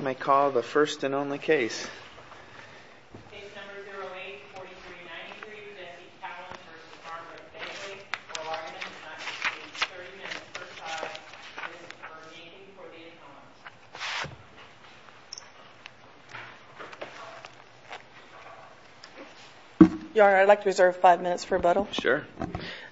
May I call the first and only case? Case number 08-4393, Jesse Cowans v. Barnwood Begley. For largeness of time, please wait 30 minutes per trial. Please remain standing for the applause. Your Honor, I'd like to reserve five minutes for rebuttal. Sure.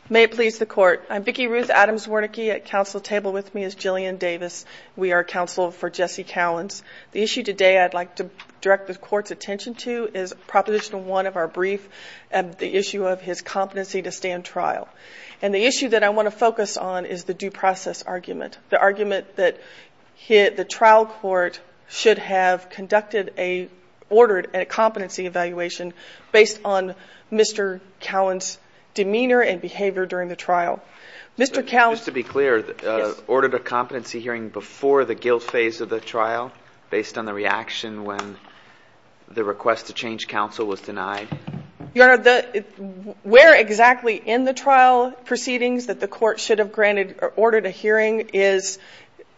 May it please the Court. I'm Vicki Ruth Adams Wernicke. At counsel table with me is Jillian Davis. We are counsel for Jesse Cowans. The issue today I'd like to direct the Court's attention to is Proposition 1 of our brief, the issue of his competency to stand trial. And the issue that I want to focus on is the due process argument, the argument that the trial court should have conducted a, ordered a competency evaluation based on Mr. Cowans' demeanor and behavior during the trial. Mr. Cowans Just to be clear, ordered a competency hearing before the guilt phase of the trial based on the reaction when the request to change counsel was denied? Your Honor, where exactly in the trial proceedings that the court should have granted or ordered a hearing is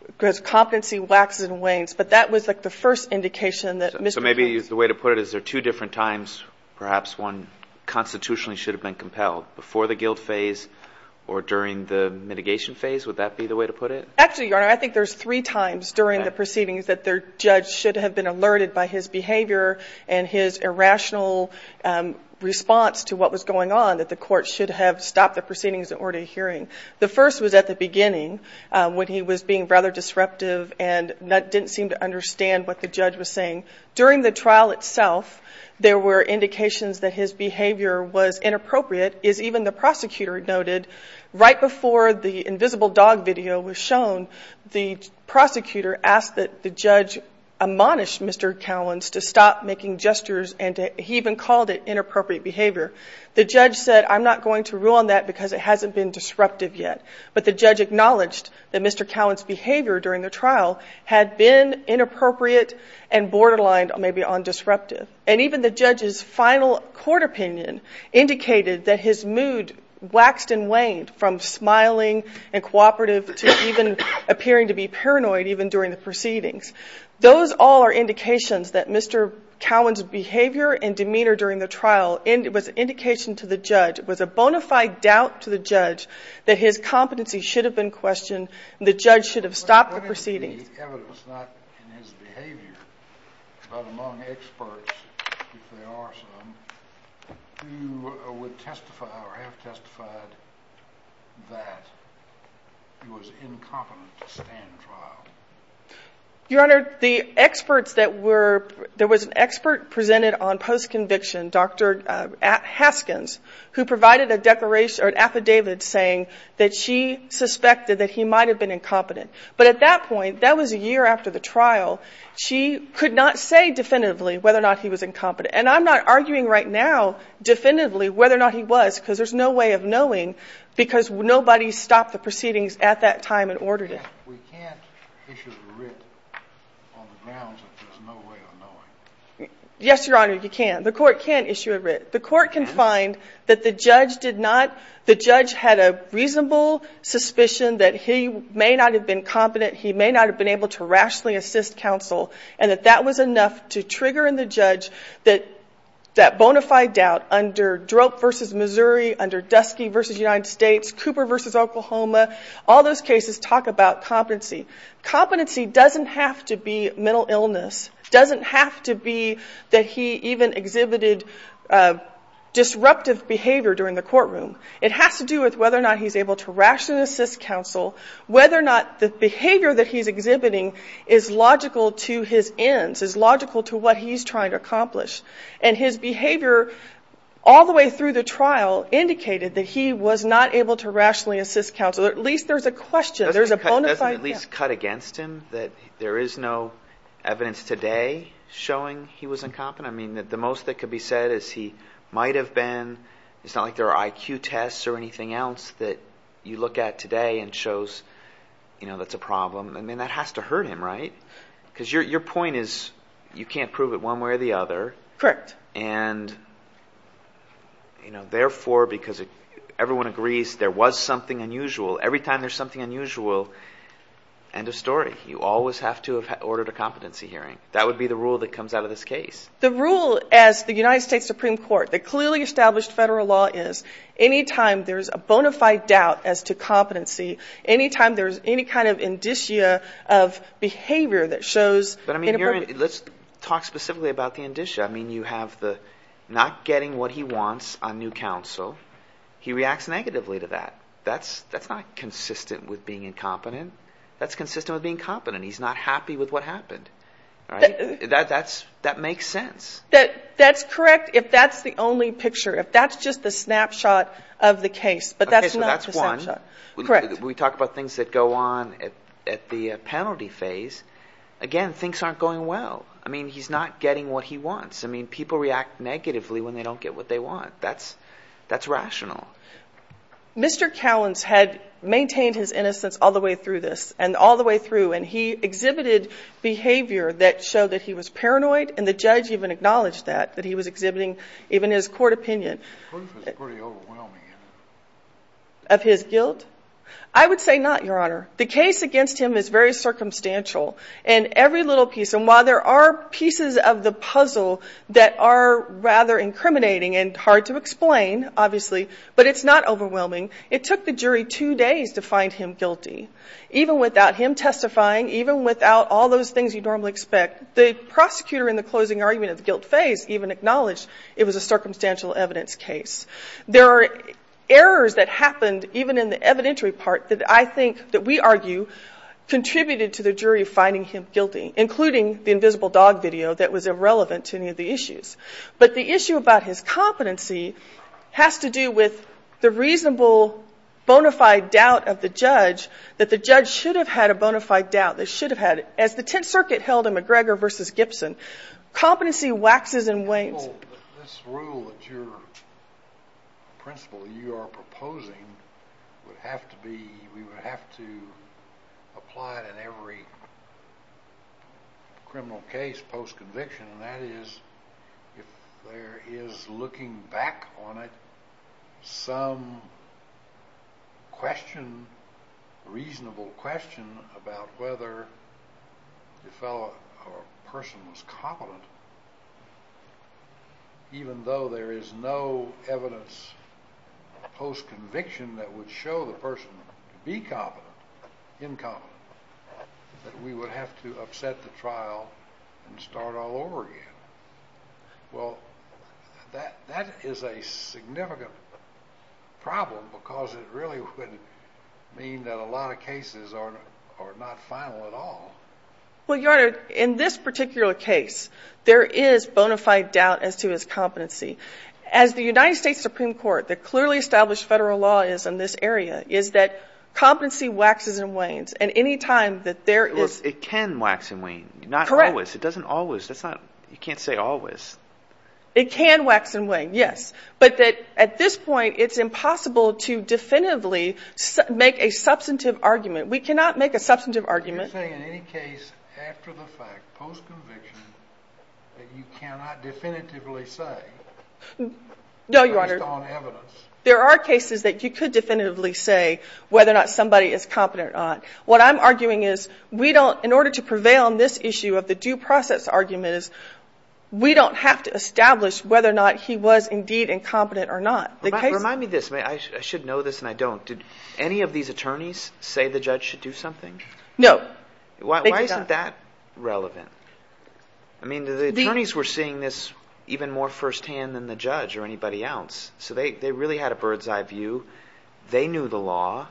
because competency waxes and wanes. But that was like the first indication that Mr. Cowans So maybe the way to put it is there are two different times perhaps one constitutionally should have been compelled, before the guilt phase or during the mitigation phase? Would that be the way to put it? Actually, Your Honor, I think there's three times during the proceedings that the judge should have been alerted by his behavior and his irrational response to what was going on that the court should have stopped the proceedings and ordered a hearing. The first was at the beginning when he was being rather disruptive and didn't seem to understand what the judge was saying. During the trial itself, there were indications that his behavior was inappropriate as even the prosecutor noted. Right before the invisible dog video was shown, the prosecutor asked that the judge admonish Mr. Cowans to stop making gestures and he even called it inappropriate behavior. The judge said, I'm not going to rule on that because it hasn't been disruptive yet. But the judge acknowledged that Mr. Cowans' behavior during the trial had been inappropriate and borderline maybe undisruptive. And even the judge's final court opinion indicated that his mood waxed and waned from smiling and cooperative to even appearing to be paranoid even during the proceedings. Those all are indications that Mr. Cowans' behavior and demeanor during the trial was an indication to the judge, was a bona fide doubt to the judge that his competency should have been questioned and the judge should have stopped the proceedings. What is the evidence, not in his behavior, but among experts, if there are some, who would testify or have testified that he was incompetent to stand trial? Your Honor, there was an expert presented on post-conviction, Dr. Haskins, who provided an affidavit saying that she suspected that he might have been incompetent. But at that point, that was a year after the trial, she could not say definitively whether or not he was incompetent. And I'm not arguing right now definitively whether or not he was because there's no way of knowing because nobody stopped the proceedings at that time and ordered it. We can't issue a writ on the grounds that there's no way of knowing. Yes, Your Honor, you can. The court can't issue a writ. The court can find that the judge had a reasonable suspicion that he may not have been competent, he may not have been able to rationally assist counsel, and that that was enough to trigger in the judge that bona fide doubt under Drope v. Missouri, under Dusky v. United States, Cooper v. Oklahoma. All those cases talk about competency. Competency doesn't have to be mental illness. It doesn't have to be that he even exhibited disruptive behavior during the courtroom. It has to do with whether or not he's able to rationally assist counsel, whether or not the behavior that he's exhibiting is logical to his ends, is logical to what he's trying to accomplish. And his behavior all the way through the trial indicated that he was not able to rationally assist counsel. At least there's a question. There's a bona fide doubt. Do you think it's cut against him that there is no evidence today showing he was incompetent? I mean, the most that could be said is he might have been. It's not like there are IQ tests or anything else that you look at today and shows, you know, that's a problem. I mean, that has to hurt him, right? Because your point is you can't prove it one way or the other. Correct. And, you know, therefore, because everyone agrees there was something unusual, every time there's something unusual, end of story. You always have to have ordered a competency hearing. That would be the rule that comes out of this case. The rule as the United States Supreme Court, the clearly established federal law, is any time there's a bona fide doubt as to competency, any time there's any kind of indicia of behavior that shows inappropriate. But, I mean, let's talk specifically about the indicia. I mean, you have the not getting what he wants on new counsel. He reacts negatively to that. That's not consistent with being incompetent. That's consistent with being competent. He's not happy with what happened, right? That makes sense. That's correct if that's the only picture, if that's just the snapshot of the case, but that's not the snapshot. Okay, so that's one. Correct. We talk about things that go on at the penalty phase. Again, things aren't going well. I mean, he's not getting what he wants. I mean, people react negatively when they don't get what they want. That's rational. Mr. Cowens had maintained his innocence all the way through this and all the way through, and he exhibited behavior that showed that he was paranoid, and the judge even acknowledged that, that he was exhibiting even his court opinion. The proof is pretty overwhelming. Of his guilt? I would say not, Your Honor. The case against him is very circumstantial. And every little piece, and while there are pieces of the puzzle that are rather incriminating and hard to explain, obviously, but it's not overwhelming. It took the jury two days to find him guilty. Even without him testifying, even without all those things you normally expect, the prosecutor in the closing argument of the guilt phase even acknowledged it was a circumstantial evidence case. There are errors that happened, even in the evidentiary part, that I think that we argue contributed to the jury finding him guilty, But the issue about his competency has to do with the reasonable bona fide doubt of the judge that the judge should have had a bona fide doubt. They should have had it. As the Tenth Circuit held in McGregor v. Gibson, competency waxes and wanes. This rule that you're, the principle that you are proposing would have to be, we would have to apply it in every criminal case post-conviction, and that is if there is, looking back on it, some question, reasonable question about whether the person was competent, even though there is no evidence post-conviction that would show the person to be competent, incompetent, that we would have to upset the trial and start all over again. Well, that is a significant problem because it really would mean that a lot of cases are not final at all. Well, Your Honor, in this particular case, there is bona fide doubt as to his competency. As the United States Supreme Court, the clearly established Federal law is in this area, is that competency waxes and wanes, and any time that there is. Look, it can wax and wane. Correct. Not always. It doesn't always. That's not, you can't say always. It can wax and wane, yes. But that at this point, it's impossible to definitively make a substantive argument. We cannot make a substantive argument. You're saying in any case after the fact, post-conviction, that you cannot definitively say based on evidence. No, Your Honor. There are cases that you could definitively say whether or not somebody is competent or not. What I'm arguing is we don't, in order to prevail on this issue of the due process argument, is we don't have to establish whether or not he was indeed incompetent or not. Remind me of this. I should know this and I don't. Did any of these attorneys say the judge should do something? No. Why isn't that relevant? I mean, the attorneys were seeing this even more firsthand than the judge or anybody else. So they really had a bird's eye view. They knew the law.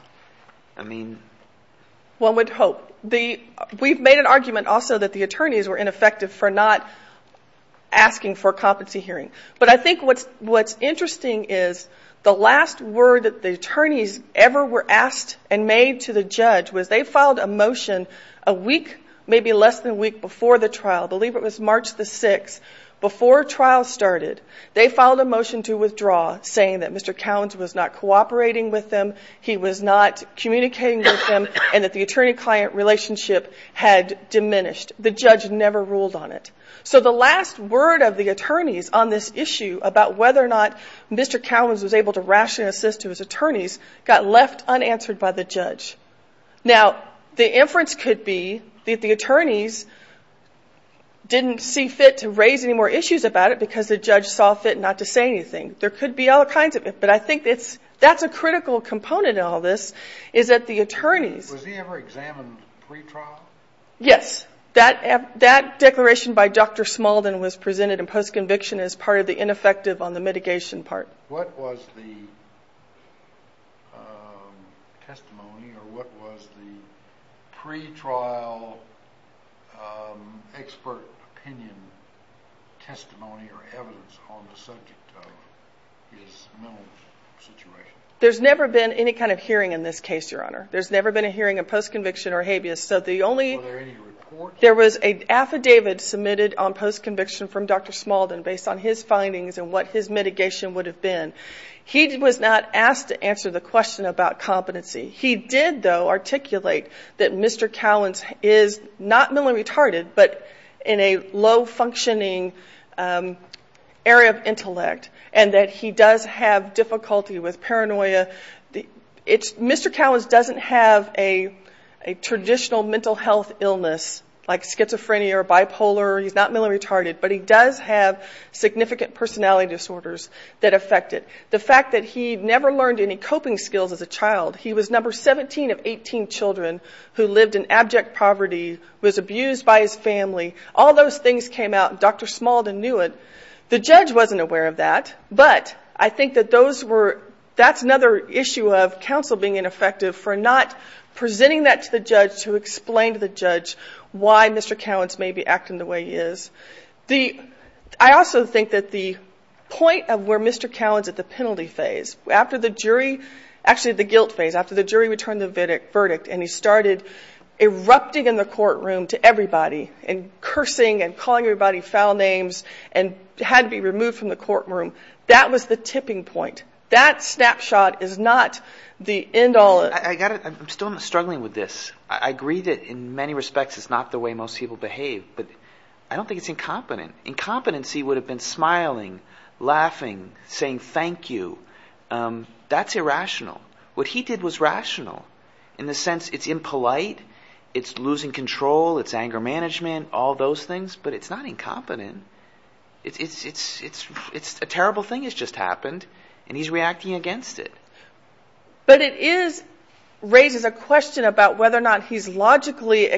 I mean. One would hope. We've made an argument also that the attorneys were ineffective for not asking for a competency hearing. But I think what's interesting is the last word that the attorneys ever were asked and made to the judge was they filed a motion a week, maybe less than a week, before the trial. I believe it was March the 6th, before trial started. They filed a motion to withdraw saying that Mr. Cowens was not cooperating with them, he was not communicating with them, and that the attorney-client relationship had diminished. The judge never ruled on it. So the last word of the attorneys on this issue about whether or not Mr. Cowens was able to rationally assist to his attorneys got left unanswered by the judge. Now, the inference could be that the attorneys didn't see fit to raise any more issues about it because the judge saw fit not to say anything. There could be all kinds of it, but I think that's a critical component in all this, is that the attorneys. Was he ever examined pre-trial? Yes. That declaration by Dr. Smalden was presented in post-conviction as part of the ineffective on the mitigation part. What was the testimony or what was the pre-trial expert opinion testimony or evidence on the subject of his mental situation? There's never been any kind of hearing in this case, Your Honor. There's never been a hearing in post-conviction or habeas. Were there any reports? There was an affidavit submitted on post-conviction from Dr. Smalden based on his findings and what his mitigation would have been. He was not asked to answer the question about competency. He did, though, articulate that Mr. Cowens is not mentally retarded but in a low-functioning area of intellect and that he does have difficulty with paranoia. Mr. Cowens doesn't have a traditional mental health illness like schizophrenia or bipolar. He's not mentally retarded, but he does have significant personality disorders that affect it. The fact that he never learned any coping skills as a child. He was number 17 of 18 children who lived in abject poverty, was abused by his family. All those things came out, and Dr. Smalden knew it. The judge wasn't aware of that, but I think that that's another issue of counsel being ineffective for not presenting that to the judge to explain to the judge why Mr. Cowens may be acting the way he is. I also think that the point of where Mr. Cowens at the penalty phase, after the jury, actually the guilt phase, after the jury returned the verdict and he started erupting in the courtroom to everybody and cursing and calling everybody foul names and had to be removed from the courtroom. That was the tipping point. That snapshot is not the end all. I'm still struggling with this. I agree that in many respects it's not the way most people behave, but I don't think it's incompetent. Incompetency would have been smiling, laughing, saying thank you. That's irrational. What he did was rational in the sense it's impolite, it's losing control, it's anger management, all those things, but it's not incompetent. It's a terrible thing that's just happened, and he's reacting against it. But it raises a question about whether or not he's logically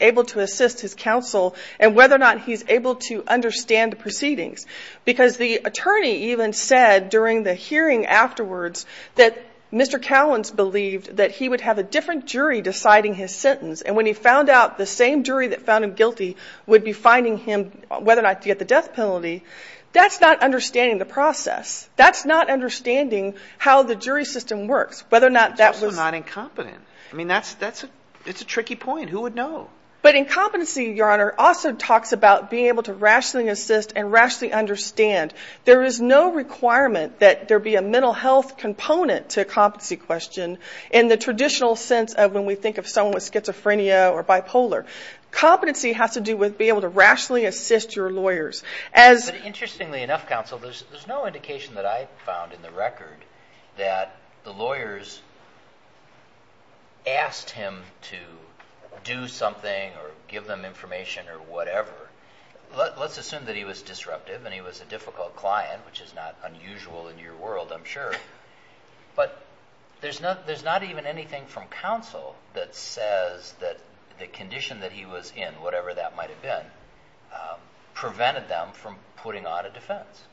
able to assist his counsel and whether or not he's able to understand the proceedings, because the attorney even said during the hearing afterwards that Mr. Cowens believed that he would have a different jury deciding his sentence, and when he found out the same jury that found him guilty would be finding him, whether or not to get the death penalty, that's not understanding the process. That's not understanding how the jury system works, whether or not that was. It's also not incompetent. I mean, that's a tricky point. Who would know? But incompetency, Your Honor, also talks about being able to rationally assist and rationally understand. There is no requirement that there be a mental health component to a competency question in the traditional sense of when we think of someone with schizophrenia or bipolar. Competency has to do with being able to rationally assist your lawyers. Interestingly enough, counsel, there's no indication that I've found in the record that the lawyers asked him to do something or give them information or whatever. Let's assume that he was disruptive and he was a difficult client, which is not unusual in your world, I'm sure, but there's not even anything from counsel that says that the condition that he was in, whatever that might have been, prevented them from putting on a defense.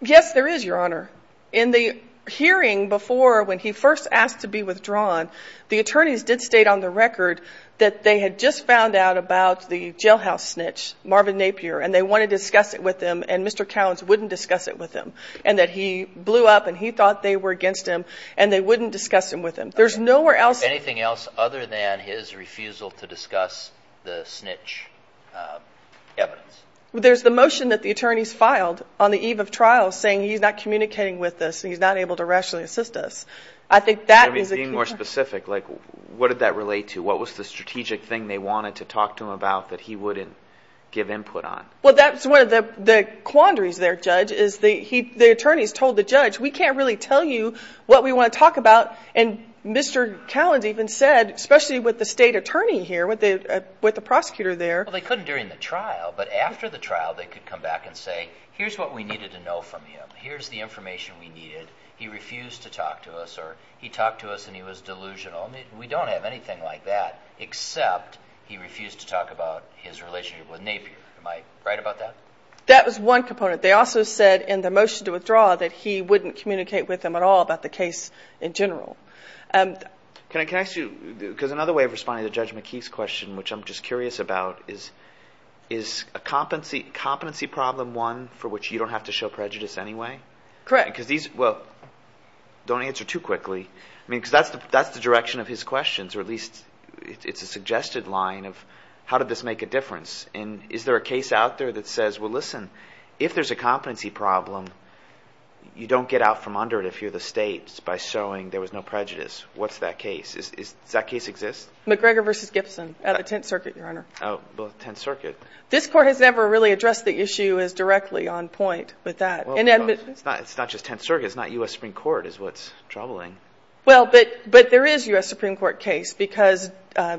Yes, there is, Your Honor. In the hearing before when he first asked to be withdrawn, the attorneys did state on the record that they had just found out about the jailhouse snitch, Marvin Napier, and they wanted to discuss it with him and Mr. Cowens wouldn't discuss it with him and that he blew up and he thought they were against him and they wouldn't discuss him with him. There's nowhere else. Anything else other than his refusal to discuss the snitch evidence? There's the motion that the attorneys filed on the eve of trial saying he's not communicating with us and he's not able to rationally assist us. I think that is a key point. To be more specific, what did that relate to? What was the strategic thing they wanted to talk to him about that he wouldn't give input on? Well, that's one of the quandaries there, Judge, is the attorneys told the judge, we can't really tell you what we want to talk about, and Mr. Cowens even said, especially with the state attorney here, with the prosecutor there. Well, they couldn't during the trial, but after the trial they could come back and say, here's what we needed to know from him. Here's the information we needed. He refused to talk to us or he talked to us and he was delusional. We don't have anything like that except he refused to talk about his relationship with Napier. Am I right about that? That was one component. They also said in the motion to withdraw that he wouldn't communicate with them at all about the case in general. Can I ask you, because another way of responding to Judge McKee's question, which I'm just curious about, is competency problem one for which you don't have to show prejudice anyway? Correct. Well, don't answer too quickly, because that's the direction of his questions, or at least it's a suggested line of how did this make a difference, and is there a case out there that says, well, listen, if there's a competency problem, you don't get out from under it if you're the state by showing there was no prejudice. What's that case? Does that case exist? McGregor v. Gibson at the Tenth Circuit, Your Honor. Oh, well, Tenth Circuit. This Court has never really addressed the issue as directly on point with that. It's not just Tenth Circuit. It's not U.S. Supreme Court is what's troubling. Well, but there is U.S. Supreme Court case because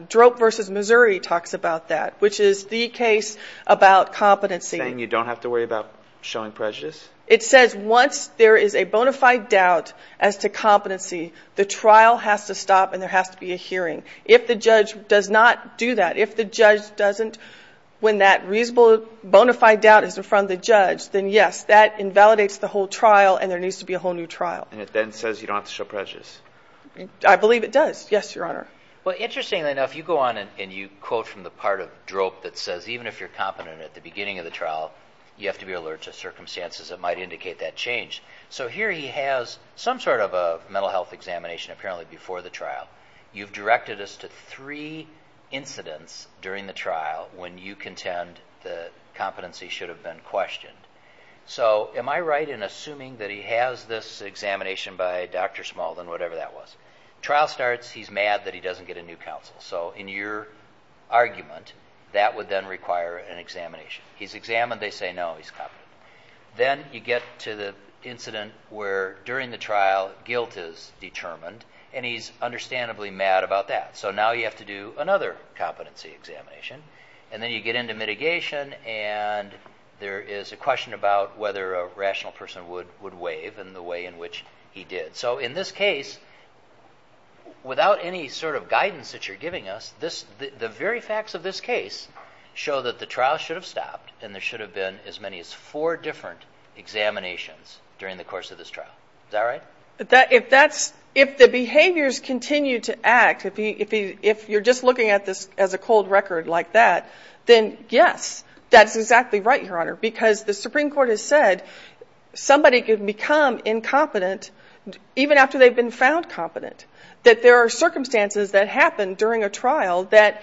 Drope v. Missouri talks about that, which is the case about competency. Saying you don't have to worry about showing prejudice? It says once there is a bona fide doubt as to competency, the trial has to stop and there has to be a hearing. If the judge does not do that, if the judge doesn't, when that reasonable bona fide doubt is in front of the judge, then yes, that invalidates the whole trial and there needs to be a whole new trial. And it then says you don't have to show prejudice? I believe it does. Yes, Your Honor. Well, interestingly enough, you go on and you quote from the part of Drope that says even if you're competent at the beginning of the trial, you have to be alert to circumstances that might indicate that change. So here he has some sort of a mental health examination apparently before the trial. You've directed us to three incidents during the trial when you contend that competency should have been questioned. So am I right in assuming that he has this examination by Dr. Smulden, whatever that was? Trial starts, he's mad that he doesn't get a new counsel. So in your argument, that would then require an examination. He's examined, they say no, he's competent. Then you get to the incident where during the trial guilt is determined and he's understandably mad about that. So now you have to do another competency examination. And then you get into mitigation and there is a question about whether a rational person would waive in the way in which he did. So in this case, without any sort of guidance that you're giving us, the very facts of this case show that the trial should have stopped and there should have been as many as four different examinations during the course of this trial. Is that right? If the behaviors continue to act, if you're just looking at this as a cold record like that, then yes, that's exactly right, Your Honor. Because the Supreme Court has said somebody can become incompetent even after they've been found competent. That there are circumstances that happen during a trial that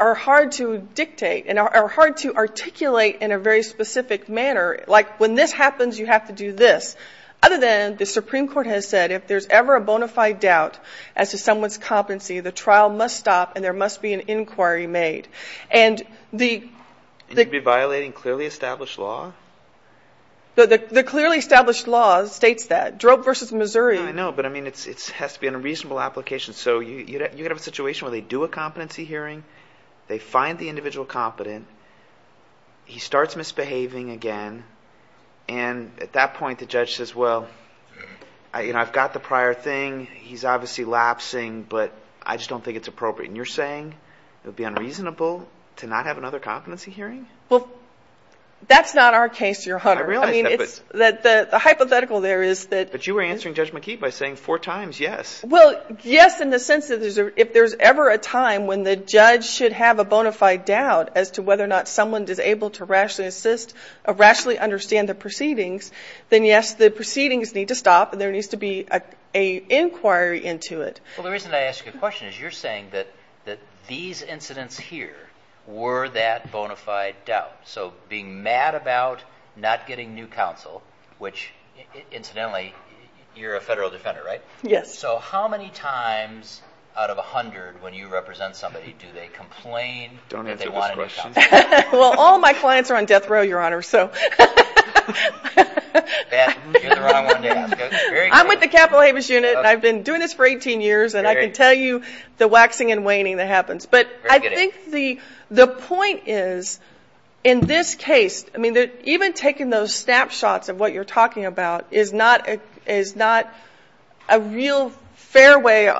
are hard to dictate and are hard to articulate in a very specific manner. Like when this happens, you have to do this. Other than the Supreme Court has said if there's ever a bona fide doubt as to someone's competency, the trial must stop and there must be an inquiry made. And the – And you'd be violating clearly established law? The clearly established law states that. I know, but I mean it has to be a reasonable application. So you could have a situation where they do a competency hearing, they find the individual competent, he starts misbehaving again, and at that point the judge says, well, I've got the prior thing, he's obviously lapsing, but I just don't think it's appropriate. And you're saying it would be unreasonable to not have another competency hearing? Well, that's not our case, Your Honor. I realize that, but. The hypothetical there is that. But you were answering Judge McKee by saying four times yes. Well, yes in the sense that if there's ever a time when the judge should have a bona fide doubt as to whether or not someone is able to rationally assist or rationally understand the proceedings, then yes, the proceedings need to stop and there needs to be an inquiry into it. Well, the reason I ask you a question is you're saying that these incidents here were that bona fide doubt. So being mad about not getting new counsel, which incidentally you're a federal defender, right? Yes. So how many times out of 100 when you represent somebody do they complain that they want a new counsel? Well, all my clients are on death row, Your Honor, so. You're the wrong one to ask. I'm with the Capitol Habeas Unit and I've been doing this for 18 years and I can tell you the waxing and waning that happens. But I think the point is in this case, I mean, even taking those snapshots of what you're talking about is not a real fair way,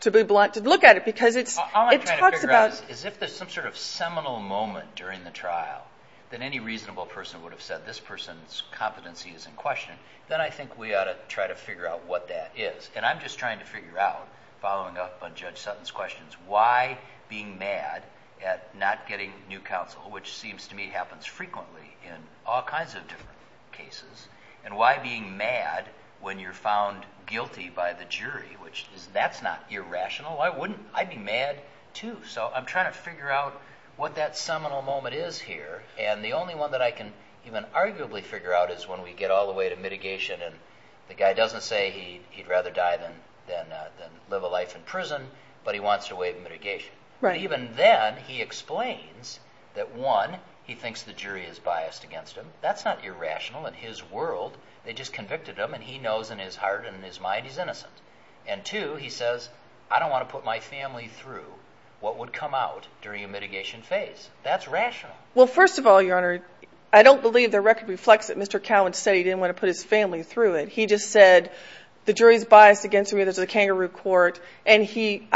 to be blunt, to look at it because it talks about. All I'm trying to figure out is if there's some sort of seminal moment during the trial that any reasonable person would have said this person's competency is in question, then I think we ought to try to figure out what that is. And I'm just trying to figure out, following up on Judge Sutton's questions, why being mad at not getting new counsel, which seems to me happens frequently in all kinds of different cases, and why being mad when you're found guilty by the jury, which that's not irrational. I'd be mad too. So I'm trying to figure out what that seminal moment is here. And the only one that I can even arguably figure out is when we get all the way to mitigation and the guy doesn't say he'd rather die than live a life in prison, but he wants to waive mitigation. But even then he explains that, one, he thinks the jury is biased against him. That's not irrational in his world. They just convicted him, and he knows in his heart and in his mind he's innocent. And, two, he says, I don't want to put my family through what would come out during a mitigation phase. That's rational. Well, first of all, Your Honor, I don't believe the record reflects that Mr. Cowen said that he didn't want to put his family through it. He just said the jury is biased against him because it's a kangaroo court, and he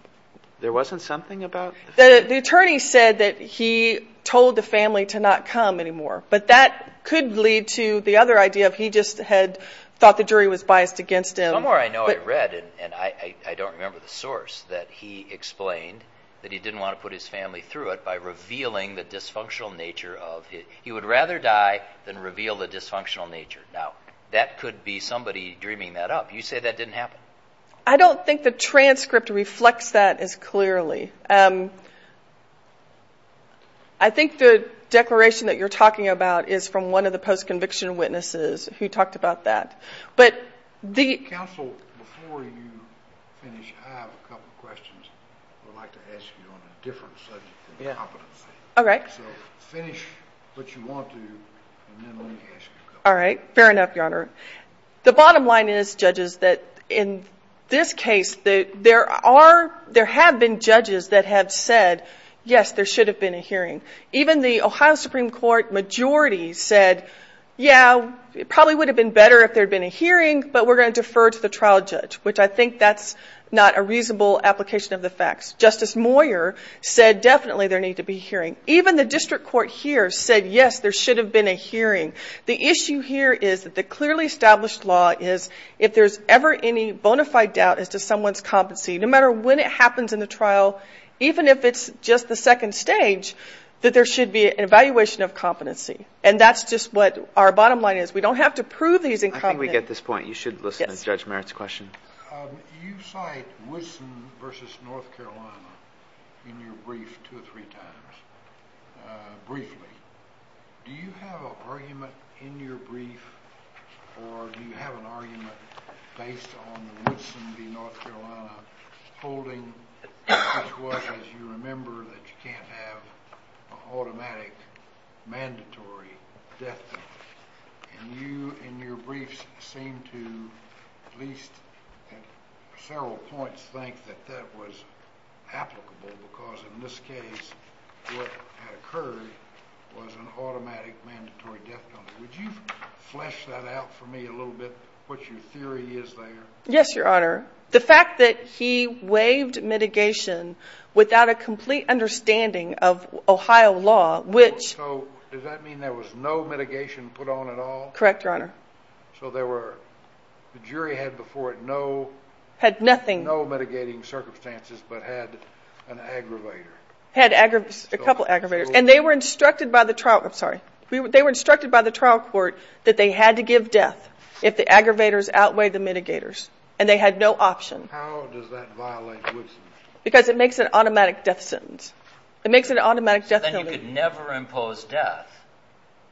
– There wasn't something about the family? The attorney said that he told the family to not come anymore. But that could lead to the other idea of he just had thought the jury was biased against him. Somewhere I know I read, and I don't remember the source, that he explained that he didn't want to put his family through it by revealing the dysfunctional nature of it. He would rather die than reveal the dysfunctional nature. Now, that could be somebody dreaming that up. You say that didn't happen? I don't think the transcript reflects that as clearly. I think the declaration that you're talking about is from one of the post-conviction witnesses who talked about that. But the – Counsel, before you finish, I have a couple of questions I would like to ask you on a different subject than competency. All right. So finish what you want to, and then let me ask you a couple. All right. Fair enough, Your Honor. The bottom line is, judges, that in this case, there are – there have been judges that have said, yes, there should have been a hearing. Even the Ohio Supreme Court majority said, yeah, it probably would have been better if there had been a hearing, but we're going to defer to the trial judge, which I think that's not a reasonable application of the facts. Justice Moyer said definitely there need to be a hearing. Even the district court here said, yes, there should have been a hearing. The issue here is that the clearly established law is if there's ever any bona fide doubt as to someone's competency, no matter when it happens in the trial, even if it's just the second stage, that there should be an evaluation of competency. And that's just what our bottom line is. We don't have to prove these incompetencies. I think we get this point. You should listen to Judge Merritt's question. You cite Woodson v. North Carolina in your brief two or three times. Briefly, do you have an argument in your brief, or do you have an argument based on the Woodson v. North Carolina, holding as well as you remember that you can't have an automatic, mandatory death penalty, and you, in your briefs, seem to, at least at several points, think that that was applicable because in this case what had occurred was an automatic, mandatory death penalty. Would you flesh that out for me a little bit, what your theory is there? Yes, Your Honor. The fact that he waived mitigation without a complete understanding of Ohio law, which— Correct, Your Honor. So there were—the jury had before it no— Had nothing. No mitigating circumstances, but had an aggravator. Had aggravators, a couple of aggravators, and they were instructed by the trial—I'm sorry. They were instructed by the trial court that they had to give death if the aggravators outweigh the mitigators, and they had no option. How does that violate Woodson? Because it makes it an automatic death sentence. It makes it an automatic death penalty. Then you could never impose death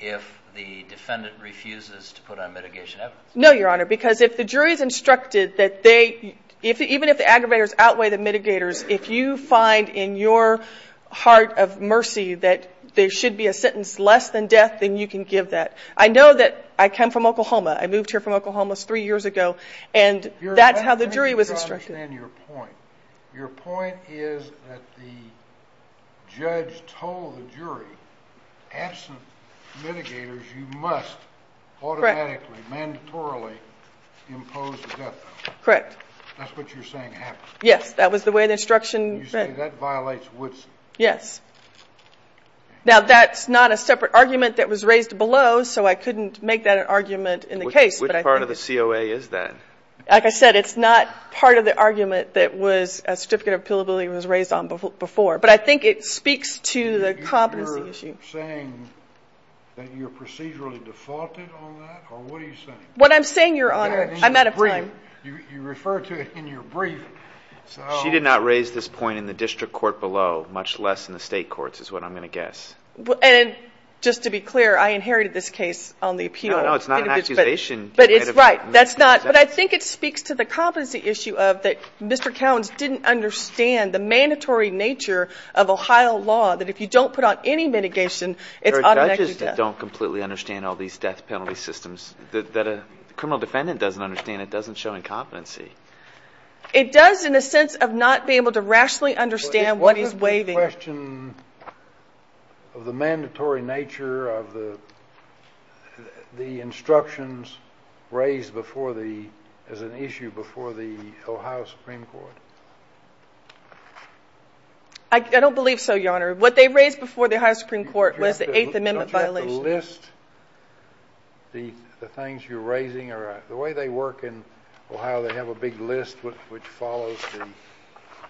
if the defendant refuses to put on mitigation evidence. No, Your Honor, because if the jury's instructed that they—even if the aggravators outweigh the mitigators, if you find in your heart of mercy that there should be a sentence less than death, then you can give that. I know that I come from Oklahoma. I moved here from Oklahoma three years ago, and that's how the jury was instructed. I understand your point. Your point is that the judge told the jury, absent mitigators, you must automatically, mandatorily impose the death penalty. Correct. That's what you're saying happened. Yes, that was the way the instruction— You say that violates Woodson. Yes. Now, that's not a separate argument that was raised below, so I couldn't make that an argument in the case. What part of the COA is that? Like I said, it's not part of the argument that a certificate of appealability was raised on before, but I think it speaks to the competency issue. You're saying that you're procedurally defaulted on that, or what are you saying? What I'm saying, Your Honor, I'm out of time. You referred to it in your brief. She did not raise this point in the district court below, much less in the state courts, is what I'm going to guess. And just to be clear, I inherited this case on the appeal. No, no, it's not an accusation. But it's right. But I think it speaks to the competency issue of that Mr. Cowens didn't understand the mandatory nature of Ohio law, that if you don't put out any mitigation, it's automatically death. There are judges that don't completely understand all these death penalty systems, that a criminal defendant doesn't understand. It doesn't show incompetency. It does in a sense of not being able to rationally understand what he's waiving. Is the question of the mandatory nature of the instructions raised before the – as an issue before the Ohio Supreme Court? I don't believe so, Your Honor. What they raised before the Ohio Supreme Court was the Eighth Amendment violation. Don't you have to list the things you're raising? The way they work in Ohio, they have a big list which follows the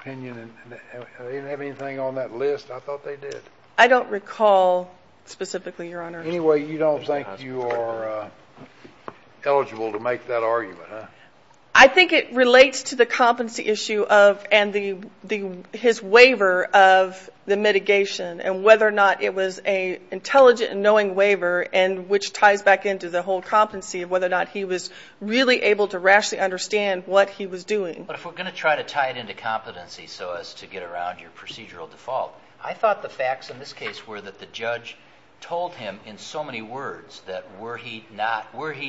opinion. Do they have anything on that list? I thought they did. I don't recall specifically, Your Honor. Anyway, you don't think you are eligible to make that argument, huh? I think it relates to the competency issue of – and his waiver of the mitigation and whether or not it was an intelligent and knowing waiver, which ties back into the whole competency of whether or not he was really able to rationally understand what he was doing. But if we're going to try to tie it into competency so as to get around your procedural default, I thought the facts in this case were that the judge told him in so many words that were he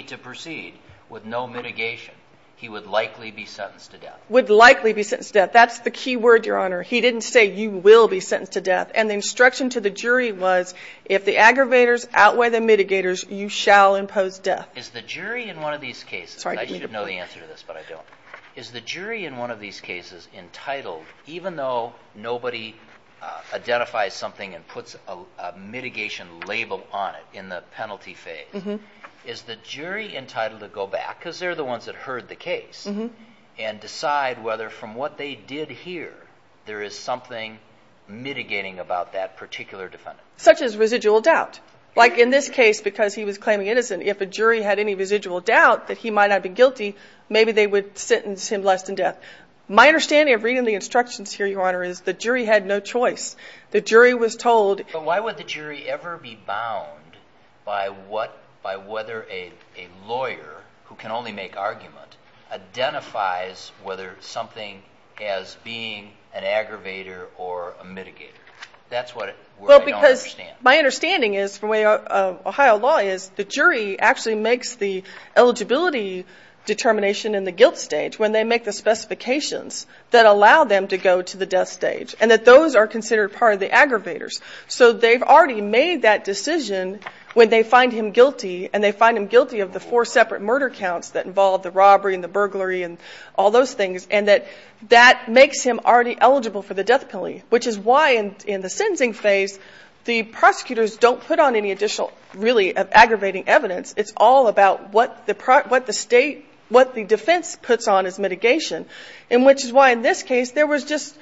to proceed with no mitigation, he would likely be sentenced to death. Would likely be sentenced to death. That's the key word, Your Honor. He didn't say you will be sentenced to death. And the instruction to the jury was if the aggravators outweigh the mitigators, you shall impose death. Is the jury in one of these cases – and I should know the answer to this, but I don't – is the jury in one of these cases entitled, even though nobody identifies something and puts a mitigation label on it in the penalty phase, is the jury entitled to go back, because they're the ones that heard the case, and decide whether from what they did hear there is something mitigating about that particular defendant? Such as residual doubt. Like in this case, because he was claiming innocent, if a jury had any residual doubt that he might not be guilty, maybe they would sentence him less than death. My understanding of reading the instructions here, Your Honor, is the jury had no choice. The jury was told – But why would the jury ever be bound by whether a lawyer who can only make argument identifies whether something as being an aggravator or a mitigator? That's what I don't understand. My understanding is, from what Ohio law is, the jury actually makes the eligibility determination in the guilt stage when they make the specifications that allow them to go to the death stage, and that those are considered part of the aggravators. So they've already made that decision when they find him guilty, and they find him guilty of the four separate murder counts that involve the robbery and the burglary and all those things, and that that makes him already eligible for the death penalty. Which is why, in the sentencing phase, the prosecutors don't put on any additional really aggravating evidence. It's all about what the defense puts on as mitigation, and which is why in this case there was just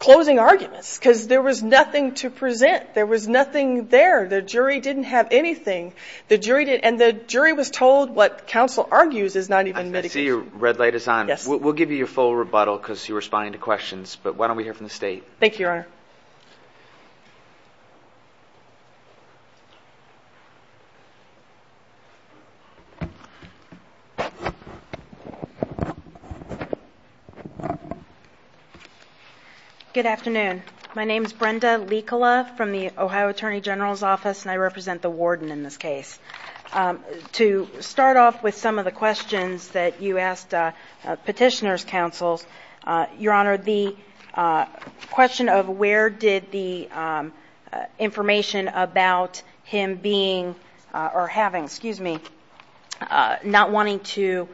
closing arguments because there was nothing to present. There was nothing there. The jury didn't have anything, and the jury was told what counsel argues is not even mitigation. I see your red light is on. Yes. We'll give you your full rebuttal because you were responding to questions, but why don't we hear from the state? Thank you, Your Honor. Good afternoon. My name is Brenda Likala from the Ohio Attorney General's Office, and I represent the warden in this case. To start off with some of the questions that you asked Petitioner's counsels, Your Honor, the question of where did the information about him being or having, excuse me, not wanting to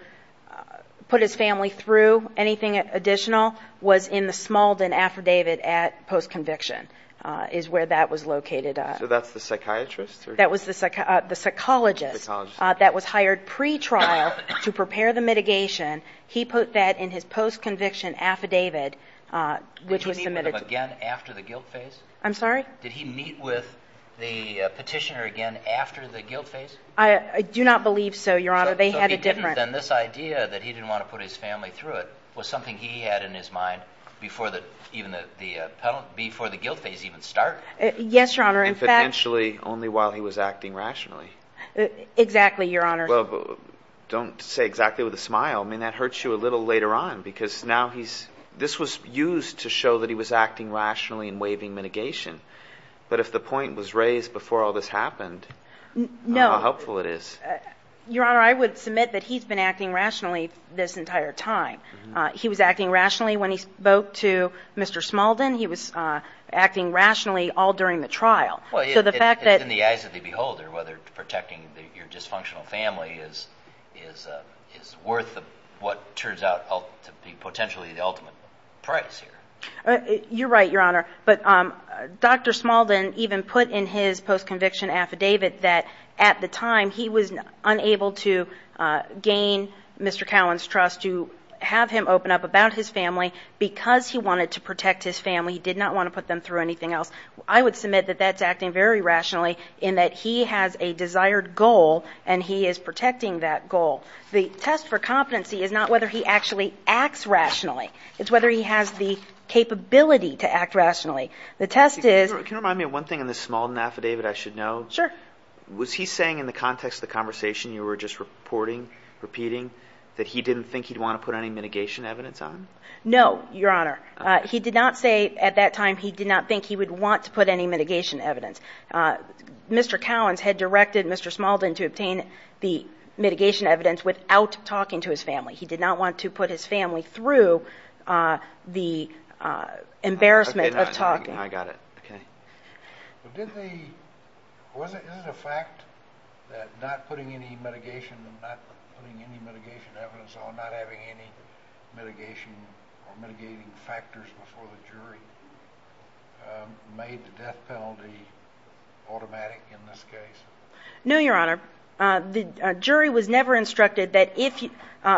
put his family through anything additional was in the Smaldon Affidavit at post-conviction, is where that was located. So that's the psychiatrist? That was the psychologist that was hired pretrial to prepare the mitigation. He put that in his post-conviction affidavit, which was submitted. Did he meet with them again after the guilt phase? I'm sorry? Did he meet with the Petitioner again after the guilt phase? I do not believe so, Your Honor. So he didn't, then this idea that he didn't want to put his family through it was something he had in his mind before the guilt phase even started. Yes, Your Honor. And potentially only while he was acting rationally. Exactly, Your Honor. Well, don't say exactly with a smile. I mean, that hurts you a little later on because now he's, this was used to show that he was acting rationally and waiving mitigation. But if the point was raised before all this happened, how helpful it is. No. Your Honor, I would submit that he's been acting rationally this entire time. He was acting rationally when he spoke to Mr. Smaldon. He was acting rationally all during the trial. Well, in the eyes of the beholder, whether protecting your dysfunctional family is worth what turns out to be potentially the ultimate price here. You're right, Your Honor. But Dr. Smaldon even put in his post-conviction affidavit that at the time, he was unable to gain Mr. Cowan's trust to have him open up about his family because he wanted to protect his family. He did not want to put them through anything else. I would submit that that's acting very rationally in that he has a desired goal, and he is protecting that goal. The test for competency is not whether he actually acts rationally. It's whether he has the capability to act rationally. The test is – Can you remind me of one thing in the Smaldon affidavit I should know? Sure. Was he saying in the context of the conversation you were just reporting, repeating, that he didn't think he'd want to put any mitigation evidence on? No, Your Honor. He did not say at that time he did not think he would want to put any mitigation evidence. Mr. Cowan had directed Mr. Smaldon to obtain the mitigation evidence without talking to his family. He did not want to put his family through the embarrassment of talking. I got it. Okay. Was it a fact that not putting any mitigation and not putting any mitigation evidence on, not having any mitigation or mitigating factors before the jury, made the death penalty automatic in this case? No, Your Honor. The jury was never instructed that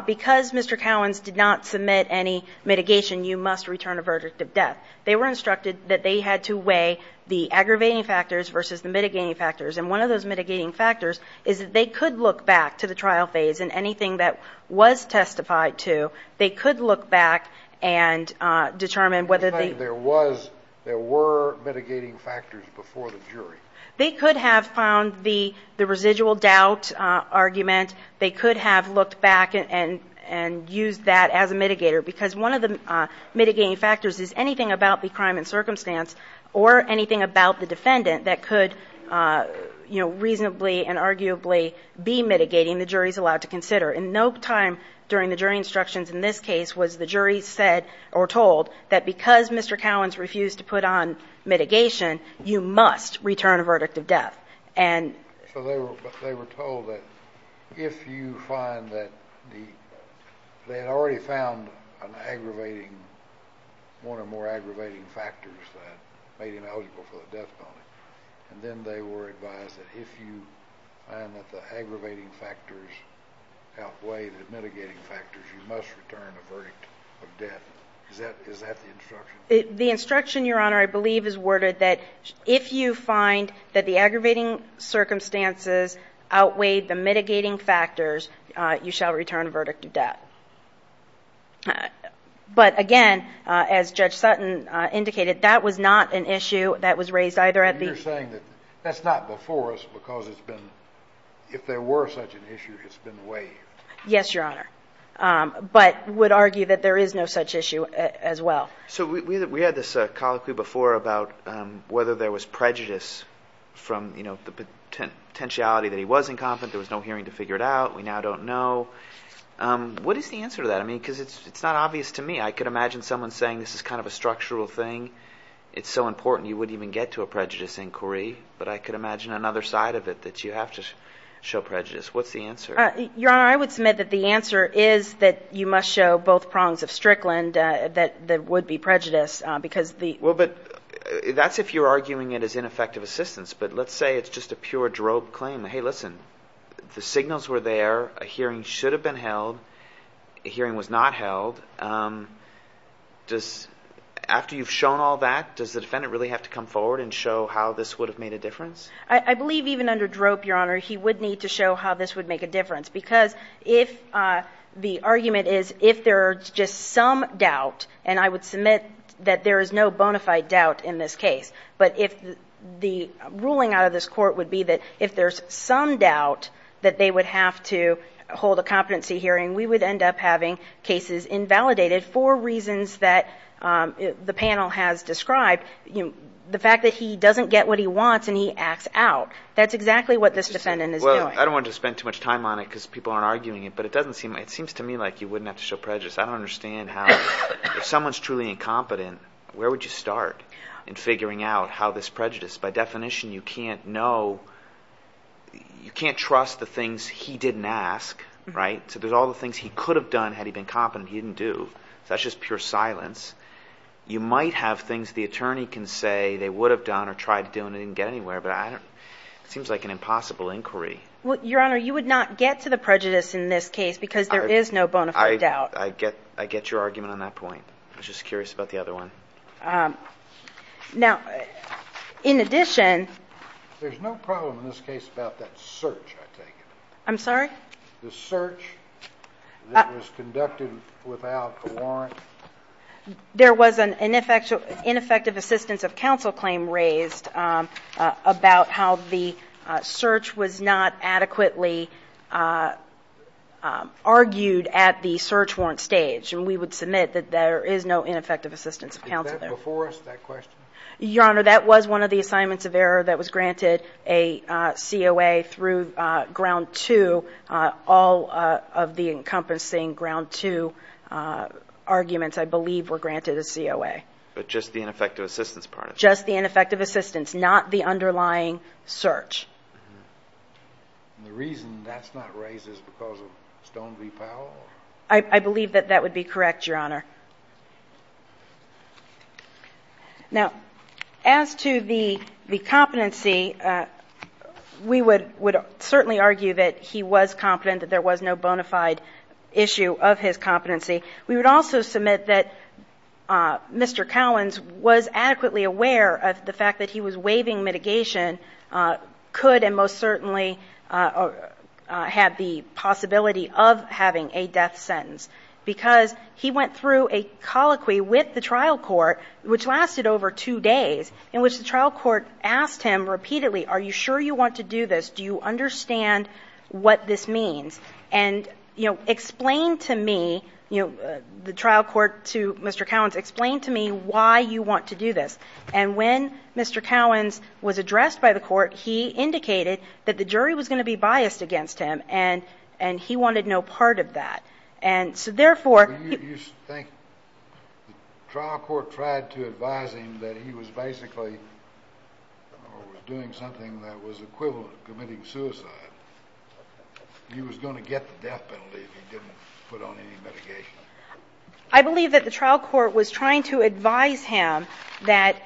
because Mr. Cowan did not submit any mitigation, you must return a verdict of death. They were instructed that they had to weigh the aggravating factors versus the mitigating factors. And one of those mitigating factors is that they could look back to the trial phase and anything that was testified to, they could look back and determine whether the ---- You're saying there was, there were mitigating factors before the jury. They could have found the residual doubt argument. They could have looked back and used that as a mitigator because one of the mitigating factors is anything about the crime and circumstance or anything about the defendant that could, you know, reasonably and arguably be mitigating, the jury is allowed to consider. And no time during the jury instructions in this case was the jury said or told that because Mr. Cowan refused to put on mitigation, you must return a verdict of death. So they were told that if you find that the, they had already found an aggravating, one or more aggravating factors that made him eligible for the death penalty, and then they were advised that if you find that the aggravating factors outweigh the mitigating factors, you must return a verdict of death. Is that the instruction? The instruction, Your Honor, I believe is worded that if you find that the aggravating circumstances outweighed the mitigating factors, you shall return a verdict of death. But again, as Judge Sutton indicated, that was not an issue that was raised either at the- And you're saying that that's not before us because it's been, if there were such an issue, it's been waived. Yes, Your Honor. But would argue that there is no such issue as well. So we had this colloquy before about whether there was prejudice from, you know, the potentiality that he was incompetent. There was no hearing to figure it out. We now don't know. What is the answer to that? I mean, because it's not obvious to me. I could imagine someone saying this is kind of a structural thing. It's so important you wouldn't even get to a prejudice inquiry, but I could imagine another side of it that you have to show prejudice. What's the answer? Your Honor, I would submit that the answer is that you must show both prongs of Strickland that would be prejudice because the- Well, but that's if you're arguing it as ineffective assistance. But let's say it's just a pure drope claim. Hey, listen, the signals were there. A hearing should have been held. A hearing was not held. After you've shown all that, does the defendant really have to come forward and show how this would have made a difference? I believe even under drope, Your Honor, he would need to show how this would make a difference because if the argument is if there's just some doubt, and I would submit that there is no bona fide doubt in this case, but if the ruling out of this Court would be that if there's some doubt that they would have to hold a competency hearing, we would end up having cases invalidated for reasons that the panel has described, the fact that he doesn't get what he wants and he acts out. That's exactly what this defendant is doing. I don't want to spend too much time on it because people aren't arguing it, but it seems to me like you wouldn't have to show prejudice. I don't understand how if someone's truly incompetent, where would you start in figuring out how this prejudiced? By definition, you can't know. You can't trust the things he didn't ask, right? So there's all the things he could have done had he been competent. He didn't do. So that's just pure silence. You might have things the attorney can say they would have done or tried to do It seems like an impossible inquiry. Your Honor, you would not get to the prejudice in this case because there is no bona fide doubt. I get your argument on that point. I was just curious about the other one. Now, in addition. There's no problem in this case about that search, I take it. I'm sorry? The search that was conducted without a warrant. There was an ineffective assistance of counsel claim raised about how the search was not adequately argued at the search warrant stage. And we would submit that there is no ineffective assistance of counsel there. Is that before us, that question? Your Honor, that was one of the assignments of error that was granted a COA through ground two. All of the encompassing ground two arguments, I believe, were granted a COA. But just the ineffective assistance part of it. Just the ineffective assistance, not the underlying search. And the reason that's not raised is because of Stone v. Powell? I believe that that would be correct, Your Honor. Now, as to the competency, we would certainly argue that he was competent, that there was no bona fide issue of his competency. We would also submit that Mr. Cowens was adequately aware of the fact that he was waiving mitigation, could and most certainly had the possibility of having a death sentence. Because he went through a colloquy with the trial court, which lasted over two days, in which the trial court asked him repeatedly, are you sure you want to do this? Do you understand what this means? And explain to me, the trial court to Mr. Cowens, explain to me why you want to do this. And when Mr. Cowens was addressed by the court, he indicated that the jury was going to be biased against him, and he wanted no part of that. And so therefore you think the trial court tried to advise him that he was basically doing something that was equivalent to committing suicide. He was going to get the death penalty if he didn't put on any mitigation. I believe that the trial court was trying to advise him that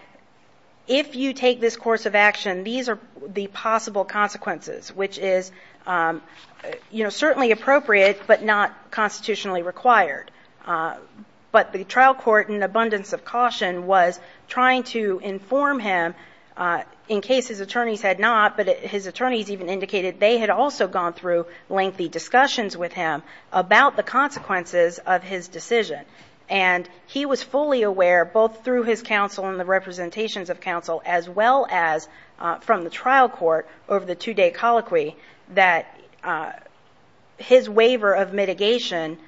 if you take this course of action, these are the possible consequences, which is certainly appropriate, but not constitutionally required. But the trial court, in abundance of caution, was trying to inform him, in case his attorneys had not, but his attorneys even indicated they had also gone through lengthy discussions with him about the consequences of his decision. And he was fully aware, both through his counsel and the representations of counsel, as well as from the trial court over the two-day colloquy, that his waiver of mitigation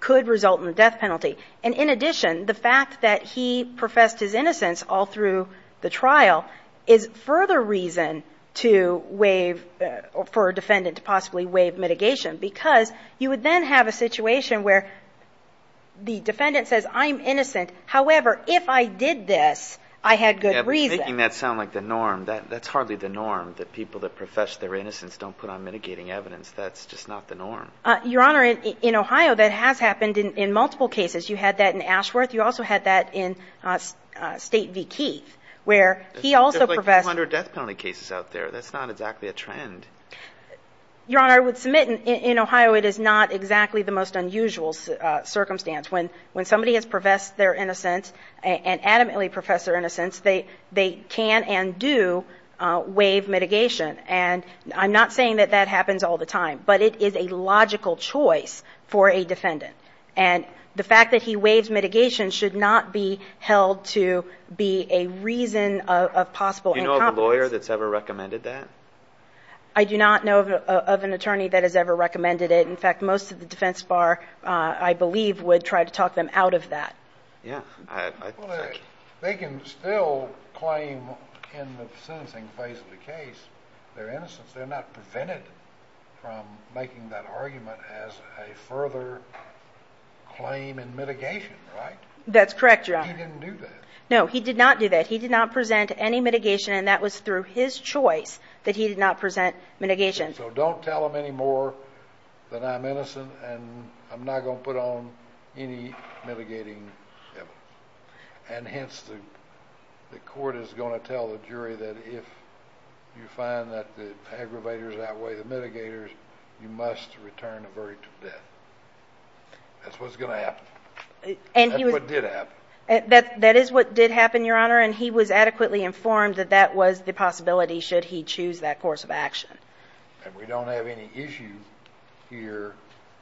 could result in the death penalty. And in addition, the fact that he professed his innocence all through the trial is further reason for a defendant to possibly waive mitigation, because you would then have a situation where the defendant says, I'm innocent. However, if I did this, I had good reason. Yeah, but making that sound like the norm, that's hardly the norm, that people that profess their innocence don't put on mitigating evidence. That's just not the norm. Your Honor, in Ohio, that has happened in multiple cases. You had that in Ashworth. You also had that in State v. Keith, where he also professed his innocence. There's like 200 death penalty cases out there. That's not exactly a trend. Your Honor, I would submit in Ohio it is not exactly the most unusual circumstance. When somebody has professed their innocence and adamantly professed their innocence, they can and do waive mitigation. And I'm not saying that that happens all the time, but it is a logical choice for a defendant. And the fact that he waives mitigation should not be held to be a reason of possible incompetence. Do you know of a lawyer that's ever recommended that? I do not know of an attorney that has ever recommended it. In fact, most of the defense bar, I believe, would try to talk them out of that. Yeah. They can still claim in the sentencing phase of the case their innocence. They're not prevented from making that argument as a further claim in mitigation, right? That's correct, Your Honor. He didn't do that. No, he did not do that. He did not present any mitigation, and that was through his choice that he did not present mitigation. So don't tell them any more that I'm innocent and I'm not going to put on any mitigating evidence. And hence, the court is going to tell the jury that if you find that the aggravators outweigh the mitigators, you must return the verdict of death. That's what's going to happen. That's what did happen. That is what did happen, Your Honor, and he was adequately informed that that was the possibility should he choose that course of action. And we don't have any issue here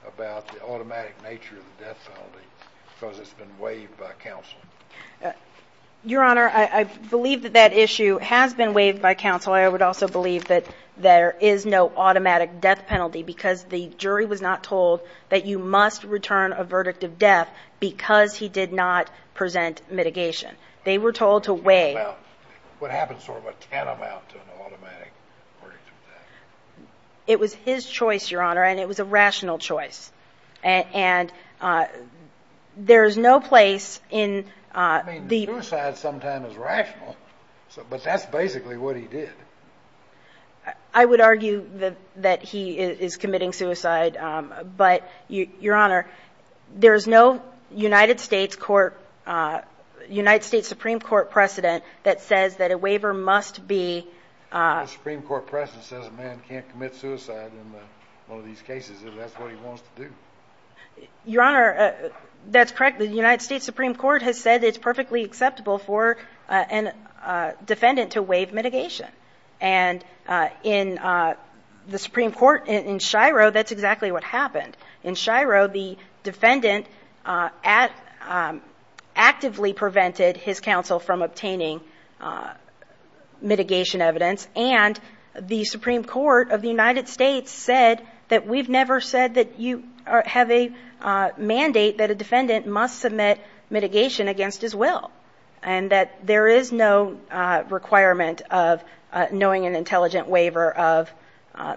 about the automatic nature of the death penalty because it's been waived by counsel? Your Honor, I believe that that issue has been waived by counsel. I would also believe that there is no automatic death penalty because the jury was not told that you must return a verdict of death because he did not present mitigation. They were told to waive. Well, what happens to a tantamount to an automatic verdict of death? It was his choice, Your Honor, and it was a rational choice. And there is no place in the ---- I mean, suicide sometimes is rational, but that's basically what he did. I would argue that he is committing suicide, but, Your Honor, there is no United States Supreme Court precedent that says that a waiver must be ---- The Supreme Court precedent says a man can't commit suicide in one of these cases if that's what he wants to do. Your Honor, that's correct. The United States Supreme Court has said it's perfectly acceptable for a defendant to waive mitigation. And in the Supreme Court in Shiro, that's exactly what happened. In Shiro, the defendant actively prevented his counsel from obtaining mitigation evidence, and the Supreme Court of the United States said that we've never said that you have a mandate that a defendant must submit mitigation against his will and that there is no requirement of knowing an intelligent waiver of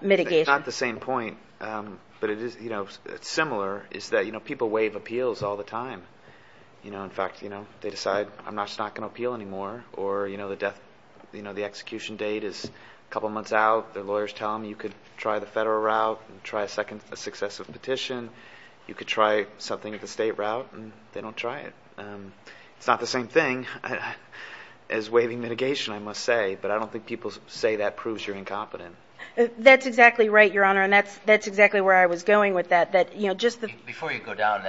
mitigation. It's not the same point, but it's similar, is that people waive appeals all the time. In fact, they decide, I'm just not going to appeal anymore, or the execution date is a couple months out. The lawyers tell them you could try the federal route and try a successive petition. You could try something at the state route, and they don't try it. It's not the same thing as waiving mitigation, I must say, but I don't think people say that proves you're incompetent. That's exactly right, Your Honor, and that's exactly where I was going with that. Before you go down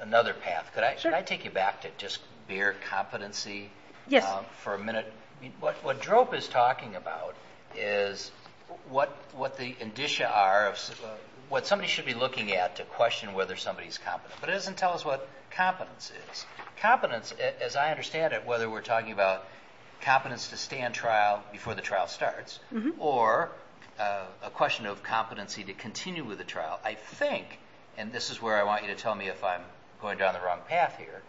another path, could I take you back to just bare competency for a minute? Yes. What DROPE is talking about is what the indicia are of what somebody should be looking at to question whether somebody's competent, but it doesn't tell us what competence is. Competence, as I understand it, whether we're talking about competence to stay on trial before the trial starts or a question of competency to continue with the trial, I think, and this is where I want you to tell me if I'm going down the wrong path here,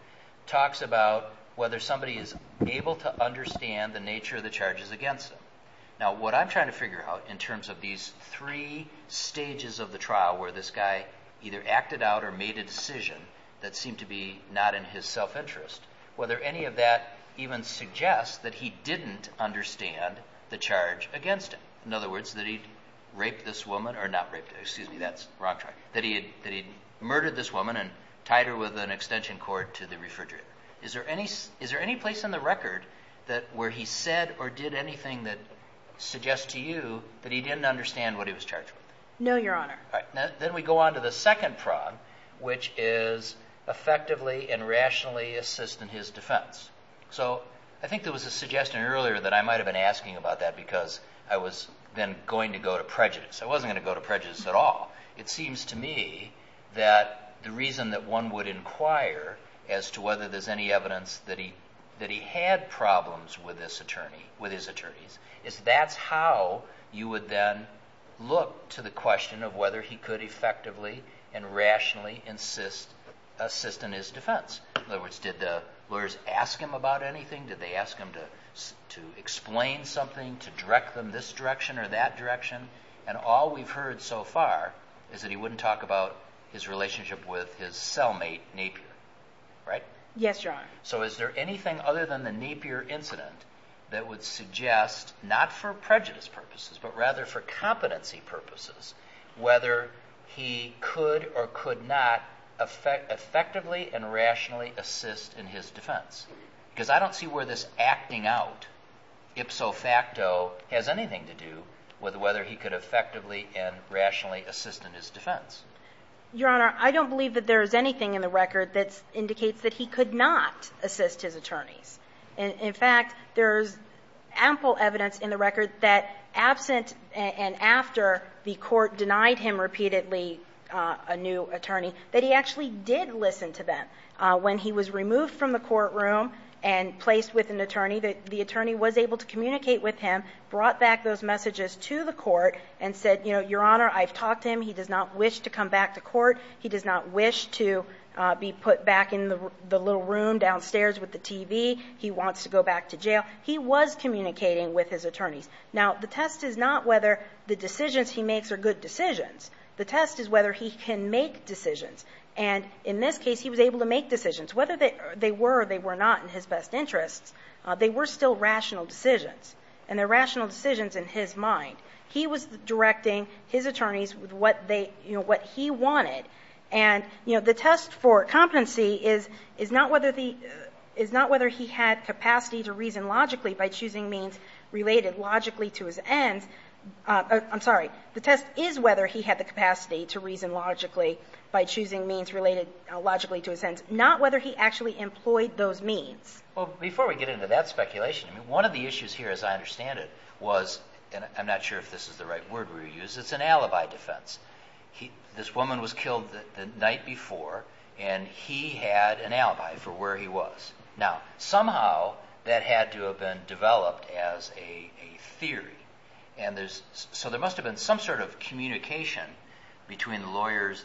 talks about whether somebody is able to understand the nature of the charges against them. Now, what I'm trying to figure out in terms of these three stages of the trial where this guy either acted out or made a decision that seemed to be not in his self-interest, whether any of that even suggests that he didn't understand the charge against him. In other words, that he'd raped this woman, or not raped, excuse me, that's the wrong term, that he'd murdered this woman and tied her with an extension cord to the refrigerator. Is there any place in the record where he said or did anything that suggests to you that he didn't understand what he was charged with? No, Your Honor. Then we go on to the second prong, which is effectively and rationally assist in his defense. So I think there was a suggestion earlier that I might have been asking about that because I was then going to go to prejudice. I wasn't going to go to prejudice at all. It seems to me that the reason that one would inquire as to whether there's any evidence that he had problems with his attorneys is that's how you would then look to the question of whether he could effectively and rationally assist in his defense. In other words, did the lawyers ask him about anything? Did they ask him to explain something, to direct them this direction or that direction? And all we've heard so far is that he wouldn't talk about his relationship with his cellmate Napier, right? Yes, Your Honor. So is there anything other than the Napier incident that would suggest, not for prejudice purposes, but rather for competency purposes, whether he could or could not effectively and rationally assist in his defense? Because I don't see where this acting out ipso facto has anything to do with whether he could effectively and rationally assist in his defense. Your Honor, I don't believe that there's anything in the record that indicates that he could not assist his attorneys. In fact, there's ample evidence in the record that absent and after the court denied him repeatedly a new attorney, that he actually did listen to them. When he was removed from the courtroom and placed with an attorney, the attorney was able to communicate with him, brought back those messages to the court, and said, Your Honor, I've talked to him. He does not wish to come back to court. He does not wish to be put back in the little room downstairs with the TV. He wants to go back to jail. He was communicating with his attorneys. Now, the test is not whether the decisions he makes are good decisions. The test is whether he can make decisions. And in this case, he was able to make decisions. Whether they were or they were not in his best interests, they were still rational decisions. And they're rational decisions in his mind. He was directing his attorneys with what they, you know, what he wanted. And, you know, the test for competency is not whether he had capacity to reason logically by choosing means related logically to his ends. I'm sorry. The test is whether he had the capacity to reason logically by choosing means related logically to his ends. Not whether he actually employed those means. Well, before we get into that speculation, one of the issues here, as I understand it, was, and I'm not sure if this is the right word we use, it's an alibi defense. This woman was killed the night before, and he had an alibi for where he was. Now, somehow, that had to have been developed as a theory. And there's, so there must have been some sort of communication between lawyers.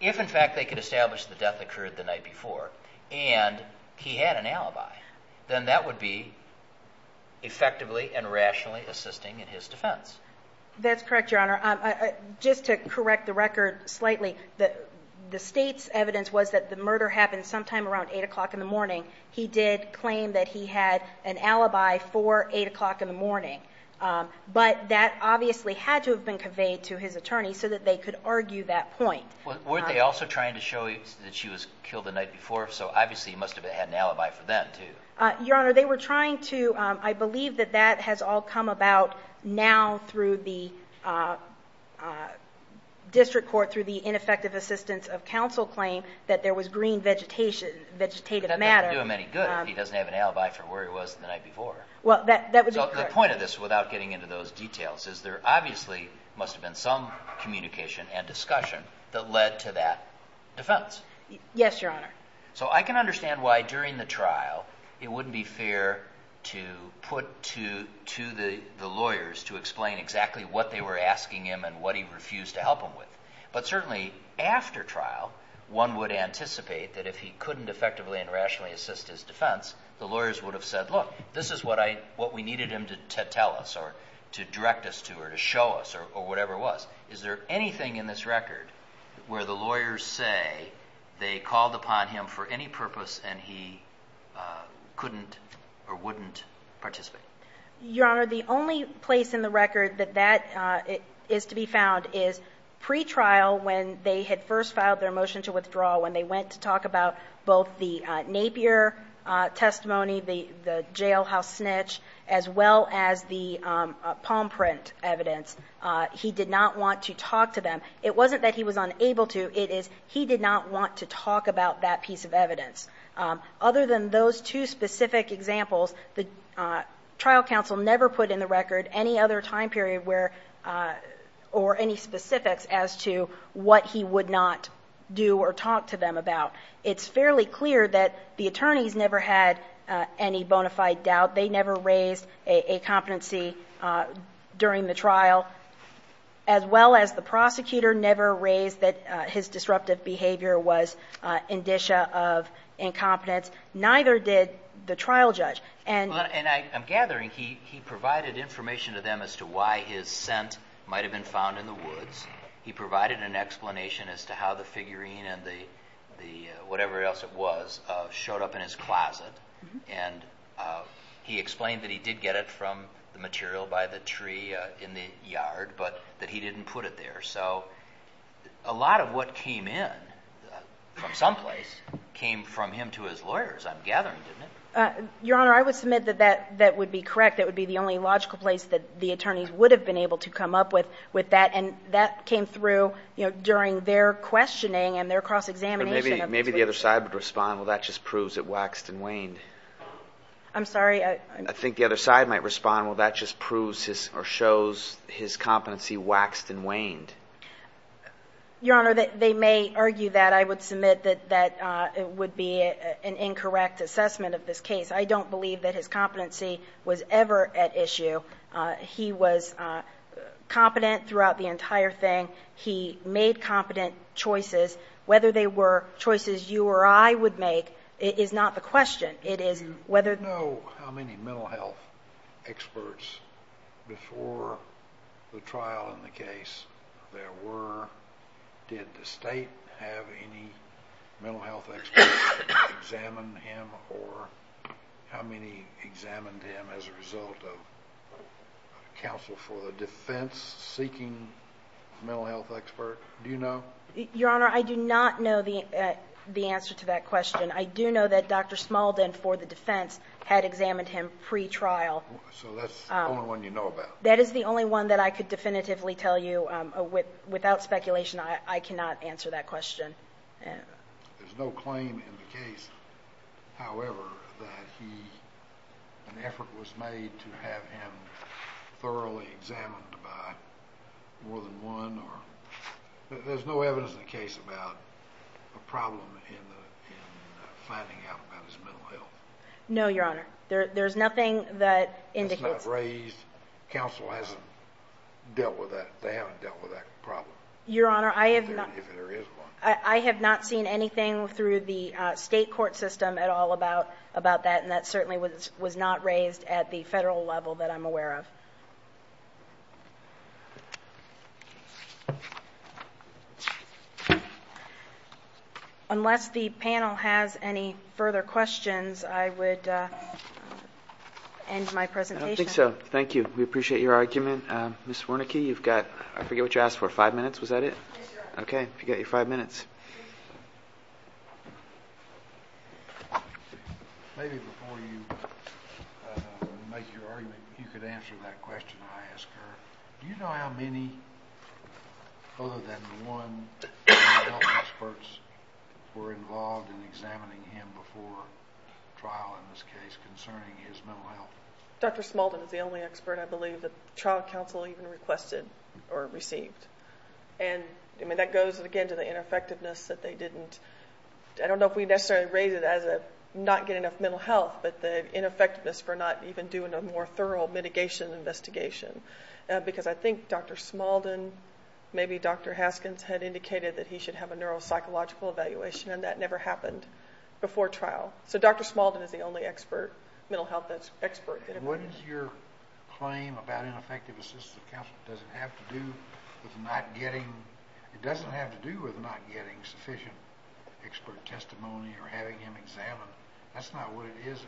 If, in fact, they could establish the death occurred the night before, and he had an alibi, then that would be effectively and rationally assisting in his defense. That's correct, Your Honor. Just to correct the record slightly, the state's evidence was that the murder happened sometime around 8 o'clock in the morning. He did claim that he had an alibi for 8 o'clock in the morning. But that obviously had to have been conveyed to his attorney so that they could argue that point. Weren't they also trying to show that she was killed the night before? So, obviously, he must have had an alibi for that, too. Your Honor, they were trying to, I believe that that has all come about now through the district court, through the ineffective assistance of counsel claim that there was green vegetative matter. That doesn't do him any good if he doesn't have an alibi for where he was the night before. Well, that would be correct. So the point of this, without getting into those details, is there obviously must have been some communication and discussion that led to that defense. Yes, Your Honor. So I can understand why during the trial it wouldn't be fair to put to the lawyers to explain exactly what they were asking him and what he refused to help him with. But certainly after trial, one would anticipate that if he couldn't effectively and rationally assist his defense, the lawyers would have said, look, this is what we needed him to tell us or to direct us to or to show us or whatever it was. Is there anything in this record where the lawyers say they called upon him for any purpose and he couldn't or wouldn't participate? Your Honor, the only place in the record that that is to be found is pre-trial when they had first filed their motion to withdraw, when they went to talk about both the Napier testimony, the jailhouse snitch, as well as the palm print evidence. He did not want to talk to them. It wasn't that he was unable to. It is he did not want to talk about that piece of evidence. Other than those two specific examples, the trial counsel never put in the record any other time period or any specifics as to what he would not do or talk to them about. It's fairly clear that the attorneys never had any bona fide doubt. They never raised a competency during the trial, as well as the prosecutor never raised that his disruptive behavior was indicia of incompetence. Neither did the trial judge. I'm gathering he provided information to them as to why his scent might have been found in the woods. He provided an explanation as to how the figurine and whatever else it was showed up in his closet. He explained that he did get it from the material by the tree in the yard, but that he didn't put it there. A lot of what came in from someplace came from him to his lawyers, I'm gathering, didn't it? Your Honor, I would submit that that would be correct. That would be the only logical place that the attorneys would have been able to come up with that, and that came through during their questioning and their cross-examination. Maybe the other side would respond, well, that just proves it waxed and waned. I'm sorry? I think the other side might respond, well, that just proves or shows his competency waxed and waned. Your Honor, they may argue that. I would submit that that would be an incorrect assessment of this case. I don't believe that his competency was ever at issue. He was competent throughout the entire thing. He made competent choices. Whether they were choices you or I would make is not the question. Do you know how many mental health experts before the trial in the case there were? Did the State have any mental health experts examine him, or how many examined him as a result of counsel for the defense seeking mental health expert? Do you know? Your Honor, I do not know the answer to that question. I do know that Dr. Smalden, for the defense, had examined him pre-trial. So that's the only one you know about? That is the only one that I could definitively tell you. Without speculation, I cannot answer that question. There's no claim in the case, however, that an effort was made to have him thoroughly examined by more than one. There's no evidence in the case about a problem in finding out about his mental health? No, Your Honor. There's nothing that indicates. It's not raised. Counsel hasn't dealt with that. They haven't dealt with that problem. Your Honor, I have not seen anything through the state court system at all about that, and that certainly was not raised at the federal level that I'm aware of. Unless the panel has any further questions, I would end my presentation. I don't think so. Thank you. We appreciate your argument. Ms. Wernicke, you've got, I forget what you asked for, five minutes. Was that it? Yes, Your Honor. Okay. You've got your five minutes. Maybe before you make your argument, you could answer that question I asked her. Do you know how many other than one of the experts were involved in examining him before trial, in this case, concerning his mental health? Dr. Smuldin is the only expert I believe that the trial counsel even requested or received. That goes, again, to the ineffectiveness that they didn't... I don't know if we necessarily rate it as not getting enough mental health, but the ineffectiveness for not even doing a more thorough mitigation investigation, because I think Dr. Smuldin, maybe Dr. Haskins, had indicated that he should have a neuropsychological evaluation, and that never happened before trial. Dr. Smuldin is the only expert, mental health expert. What is your claim about ineffective assistance of counsel? Does it have to do with not getting... It doesn't have to do with not getting sufficient expert testimony or having him examined. That's not what it is.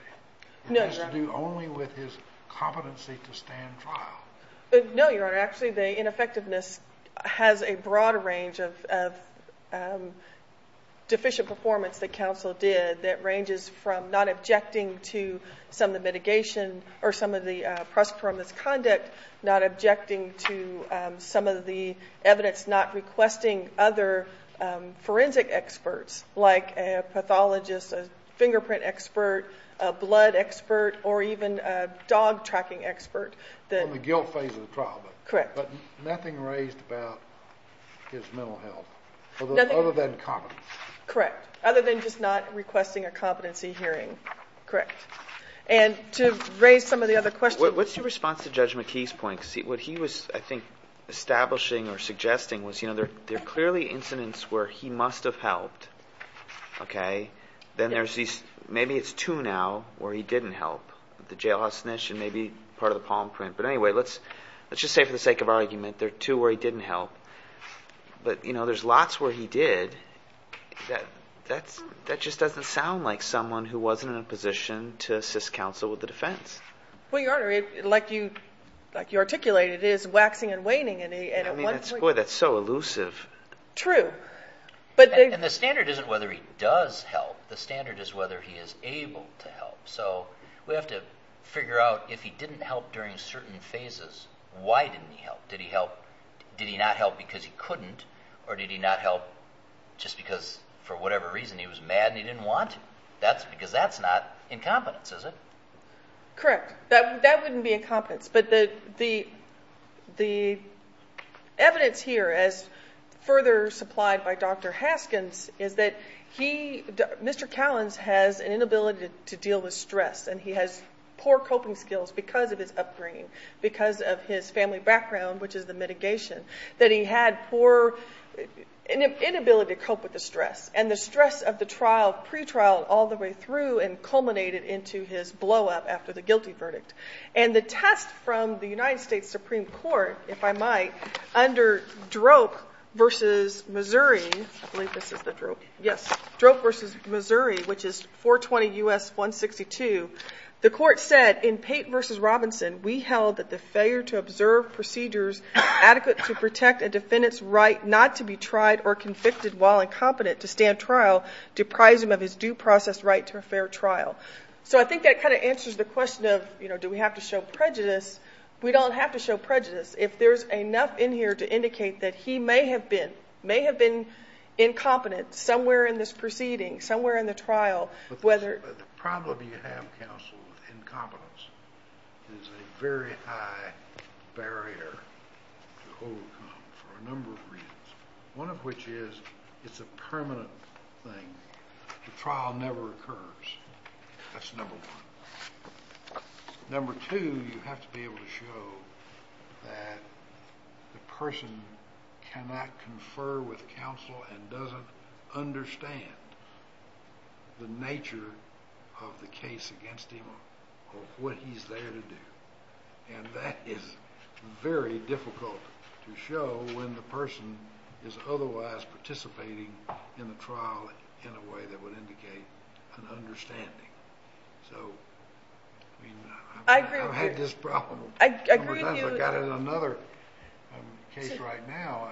No, Your Honor. It has to do only with his competency to stand trial. No, Your Honor. Actually, the ineffectiveness has a broad range of deficient performance that counsel did that ranges from not objecting to some of the mitigation or some of the prosperous conduct, not objecting to some of the evidence, not requesting other forensic experts like a pathologist, a fingerprint expert, a blood expert, or even a dog tracking expert. The guilt phase of the trial. Correct. But nothing raised about his mental health, other than competence. Correct. Other than just not requesting a competency hearing. Correct. And to raise some of the other questions... What's your response to Judge McKee's point? Because what he was, I think, establishing or suggesting was, you know, there are clearly incidents where he must have helped, okay? Then there's these... maybe it's two now where he didn't help, the jailhouse snitch and maybe part of the palm print. But anyway, let's just say for the sake of argument, there are two where he didn't help. But, you know, there's lots where he did. That just doesn't sound like someone who wasn't in a position to assist counsel with the defense. Well, Your Honor, like you articulated, it is waxing and waning. Boy, that's so elusive. True. And the standard isn't whether he does help. The standard is whether he is able to help. So we have to figure out if he didn't help during certain phases, why didn't he help? Did he not help because he couldn't, or did he not help just because for whatever reason he was mad and he didn't want to? Because that's not incompetence, is it? Correct. That wouldn't be incompetence. But the evidence here, as further supplied by Dr. Haskins, is that he, Mr. Cowens, has an inability to deal with stress, and he has poor coping skills because of his upbringing, because of his family background, which is the mitigation, that he had poor inability to cope with the stress. And the stress of the trial, pretrial, all the way through and culminated into his blowup after the guilty verdict. And the test from the United States Supreme Court, if I might, under Droke v. Missouri, which is 420 U.S. 162, the court said in Pate v. Robinson, we held that the failure to observe procedures adequate to protect a defendant's right not to be tried or convicted while incompetent to stand trial deprives him of his due process right to a fair trial. So I think that kind of answers the question of do we have to show prejudice. We don't have to show prejudice. If there's enough in here to indicate that he may have been incompetent somewhere in this proceeding, somewhere in the trial, whether— The problem you have, counsel, with incompetence, is a very high barrier to overcome for a number of reasons, one of which is it's a permanent thing. The trial never occurs. That's number one. Number two, you have to be able to show that the person cannot confer with counsel and doesn't understand the nature of the case against him or what he's there to do. And that is very difficult to show when the person is otherwise participating in the trial in a way that would indicate an understanding. So I've had this problem a number of times. I agree with you. I've got another case right now.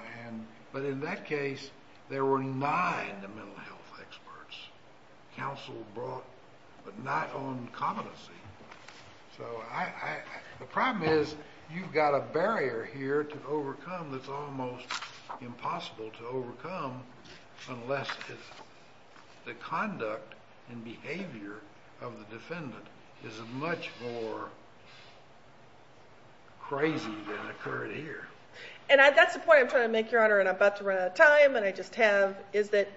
But in that case, there were nine mental health experts. Counsel brought—but not on competency. So the problem is you've got a barrier here to overcome that's almost impossible to overcome unless the conduct and behavior of the defendant is much more crazy than occurred here. And that's the point I'm trying to make, Your Honor, and I'm about to run out of time and I just have, is that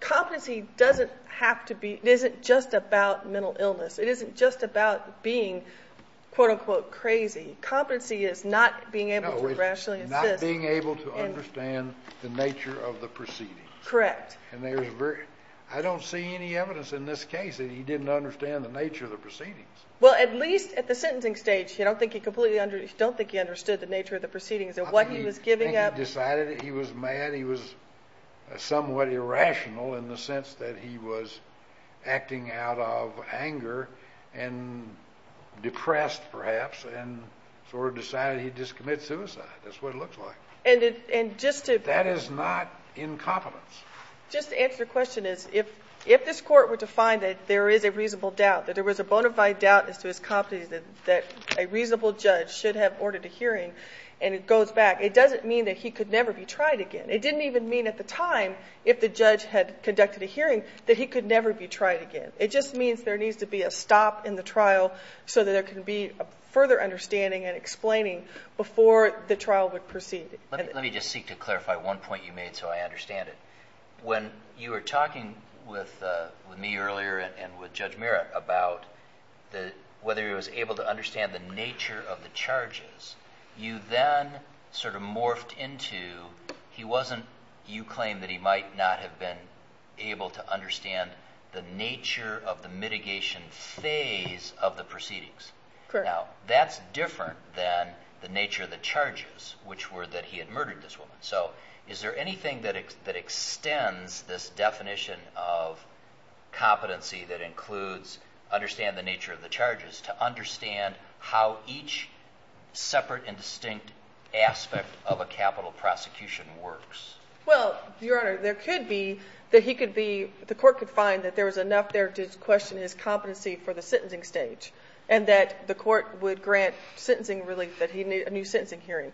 competency doesn't have to be—it isn't just about mental illness. It isn't just about being quote-unquote crazy. Competency is not being able to rationally assist. No, it's not being able to understand the nature of the proceedings. Correct. And there's very—I don't see any evidence in this case that he didn't understand the nature of the proceedings. Well, at least at the sentencing stage, I don't think he completely—I don't think he understood the nature of the proceedings and what he was giving up. I think he decided he was mad, he was somewhat irrational in the sense that he was acting out of anger and depressed perhaps and sort of decided he'd just commit suicide. That's what it looks like. And just to— That is not incompetence. Just to answer your question is if this court were to find that there is a reasonable doubt, that there was a bona fide doubt as to his competency, that a reasonable judge should have ordered a hearing and it goes back, it doesn't mean that he could never be tried again. It didn't even mean at the time if the judge had conducted a hearing that he could never be tried again. It just means there needs to be a stop in the trial so that there can be a further understanding and explaining before the trial would proceed. Let me just seek to clarify one point you made so I understand it. When you were talking with me earlier and with Judge Merrick about whether he was able to understand the nature of the charges, you then sort of morphed into he wasn't— you claimed that he might not have been able to understand the nature of the mitigation phase of the proceedings. Now, that's different than the nature of the charges, which were that he had murdered this woman. So is there anything that extends this definition of competency that includes understand the nature of the charges to understand how each separate and distinct aspect of a capital prosecution works? Well, Your Honor, there could be that he could be— the court could find that there was enough there to question his competency for the sentencing stage and that the court would grant sentencing relief, that he needed a new sentencing hearing.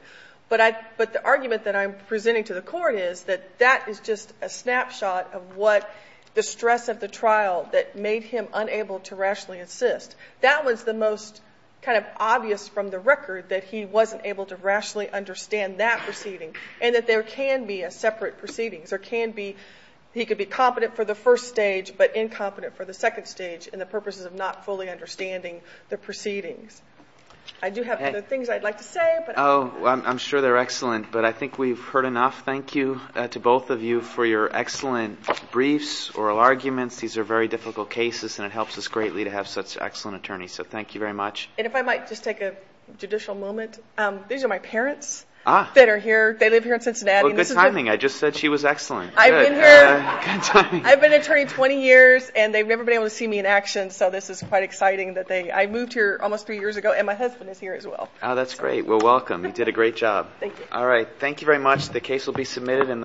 But the argument that I'm presenting to the court is that that is just a snapshot of what the stress of the trial that made him unable to rationally assist. That was the most kind of obvious from the record that he wasn't able to rationally understand that proceeding and that there can be separate proceedings. There can be—he could be competent for the first stage but incompetent for the second stage in the purposes of not fully understanding the proceedings. I do have other things I'd like to say. Oh, I'm sure they're excellent, but I think we've heard enough. Thank you to both of you for your excellent briefs, oral arguments. These are very difficult cases, and it helps us greatly to have such excellent attorneys. So thank you very much. And if I might just take a judicial moment. These are my parents that are here. They live here in Cincinnati. Good timing. I just said she was excellent. I've been an attorney 20 years, and they've never been able to see me in action, so this is quite exciting that they— I moved here almost three years ago, and my husband is here as well. Oh, that's great. Well, welcome. You did a great job. Thank you. All right. Thank you very much. The case will be submitted in the—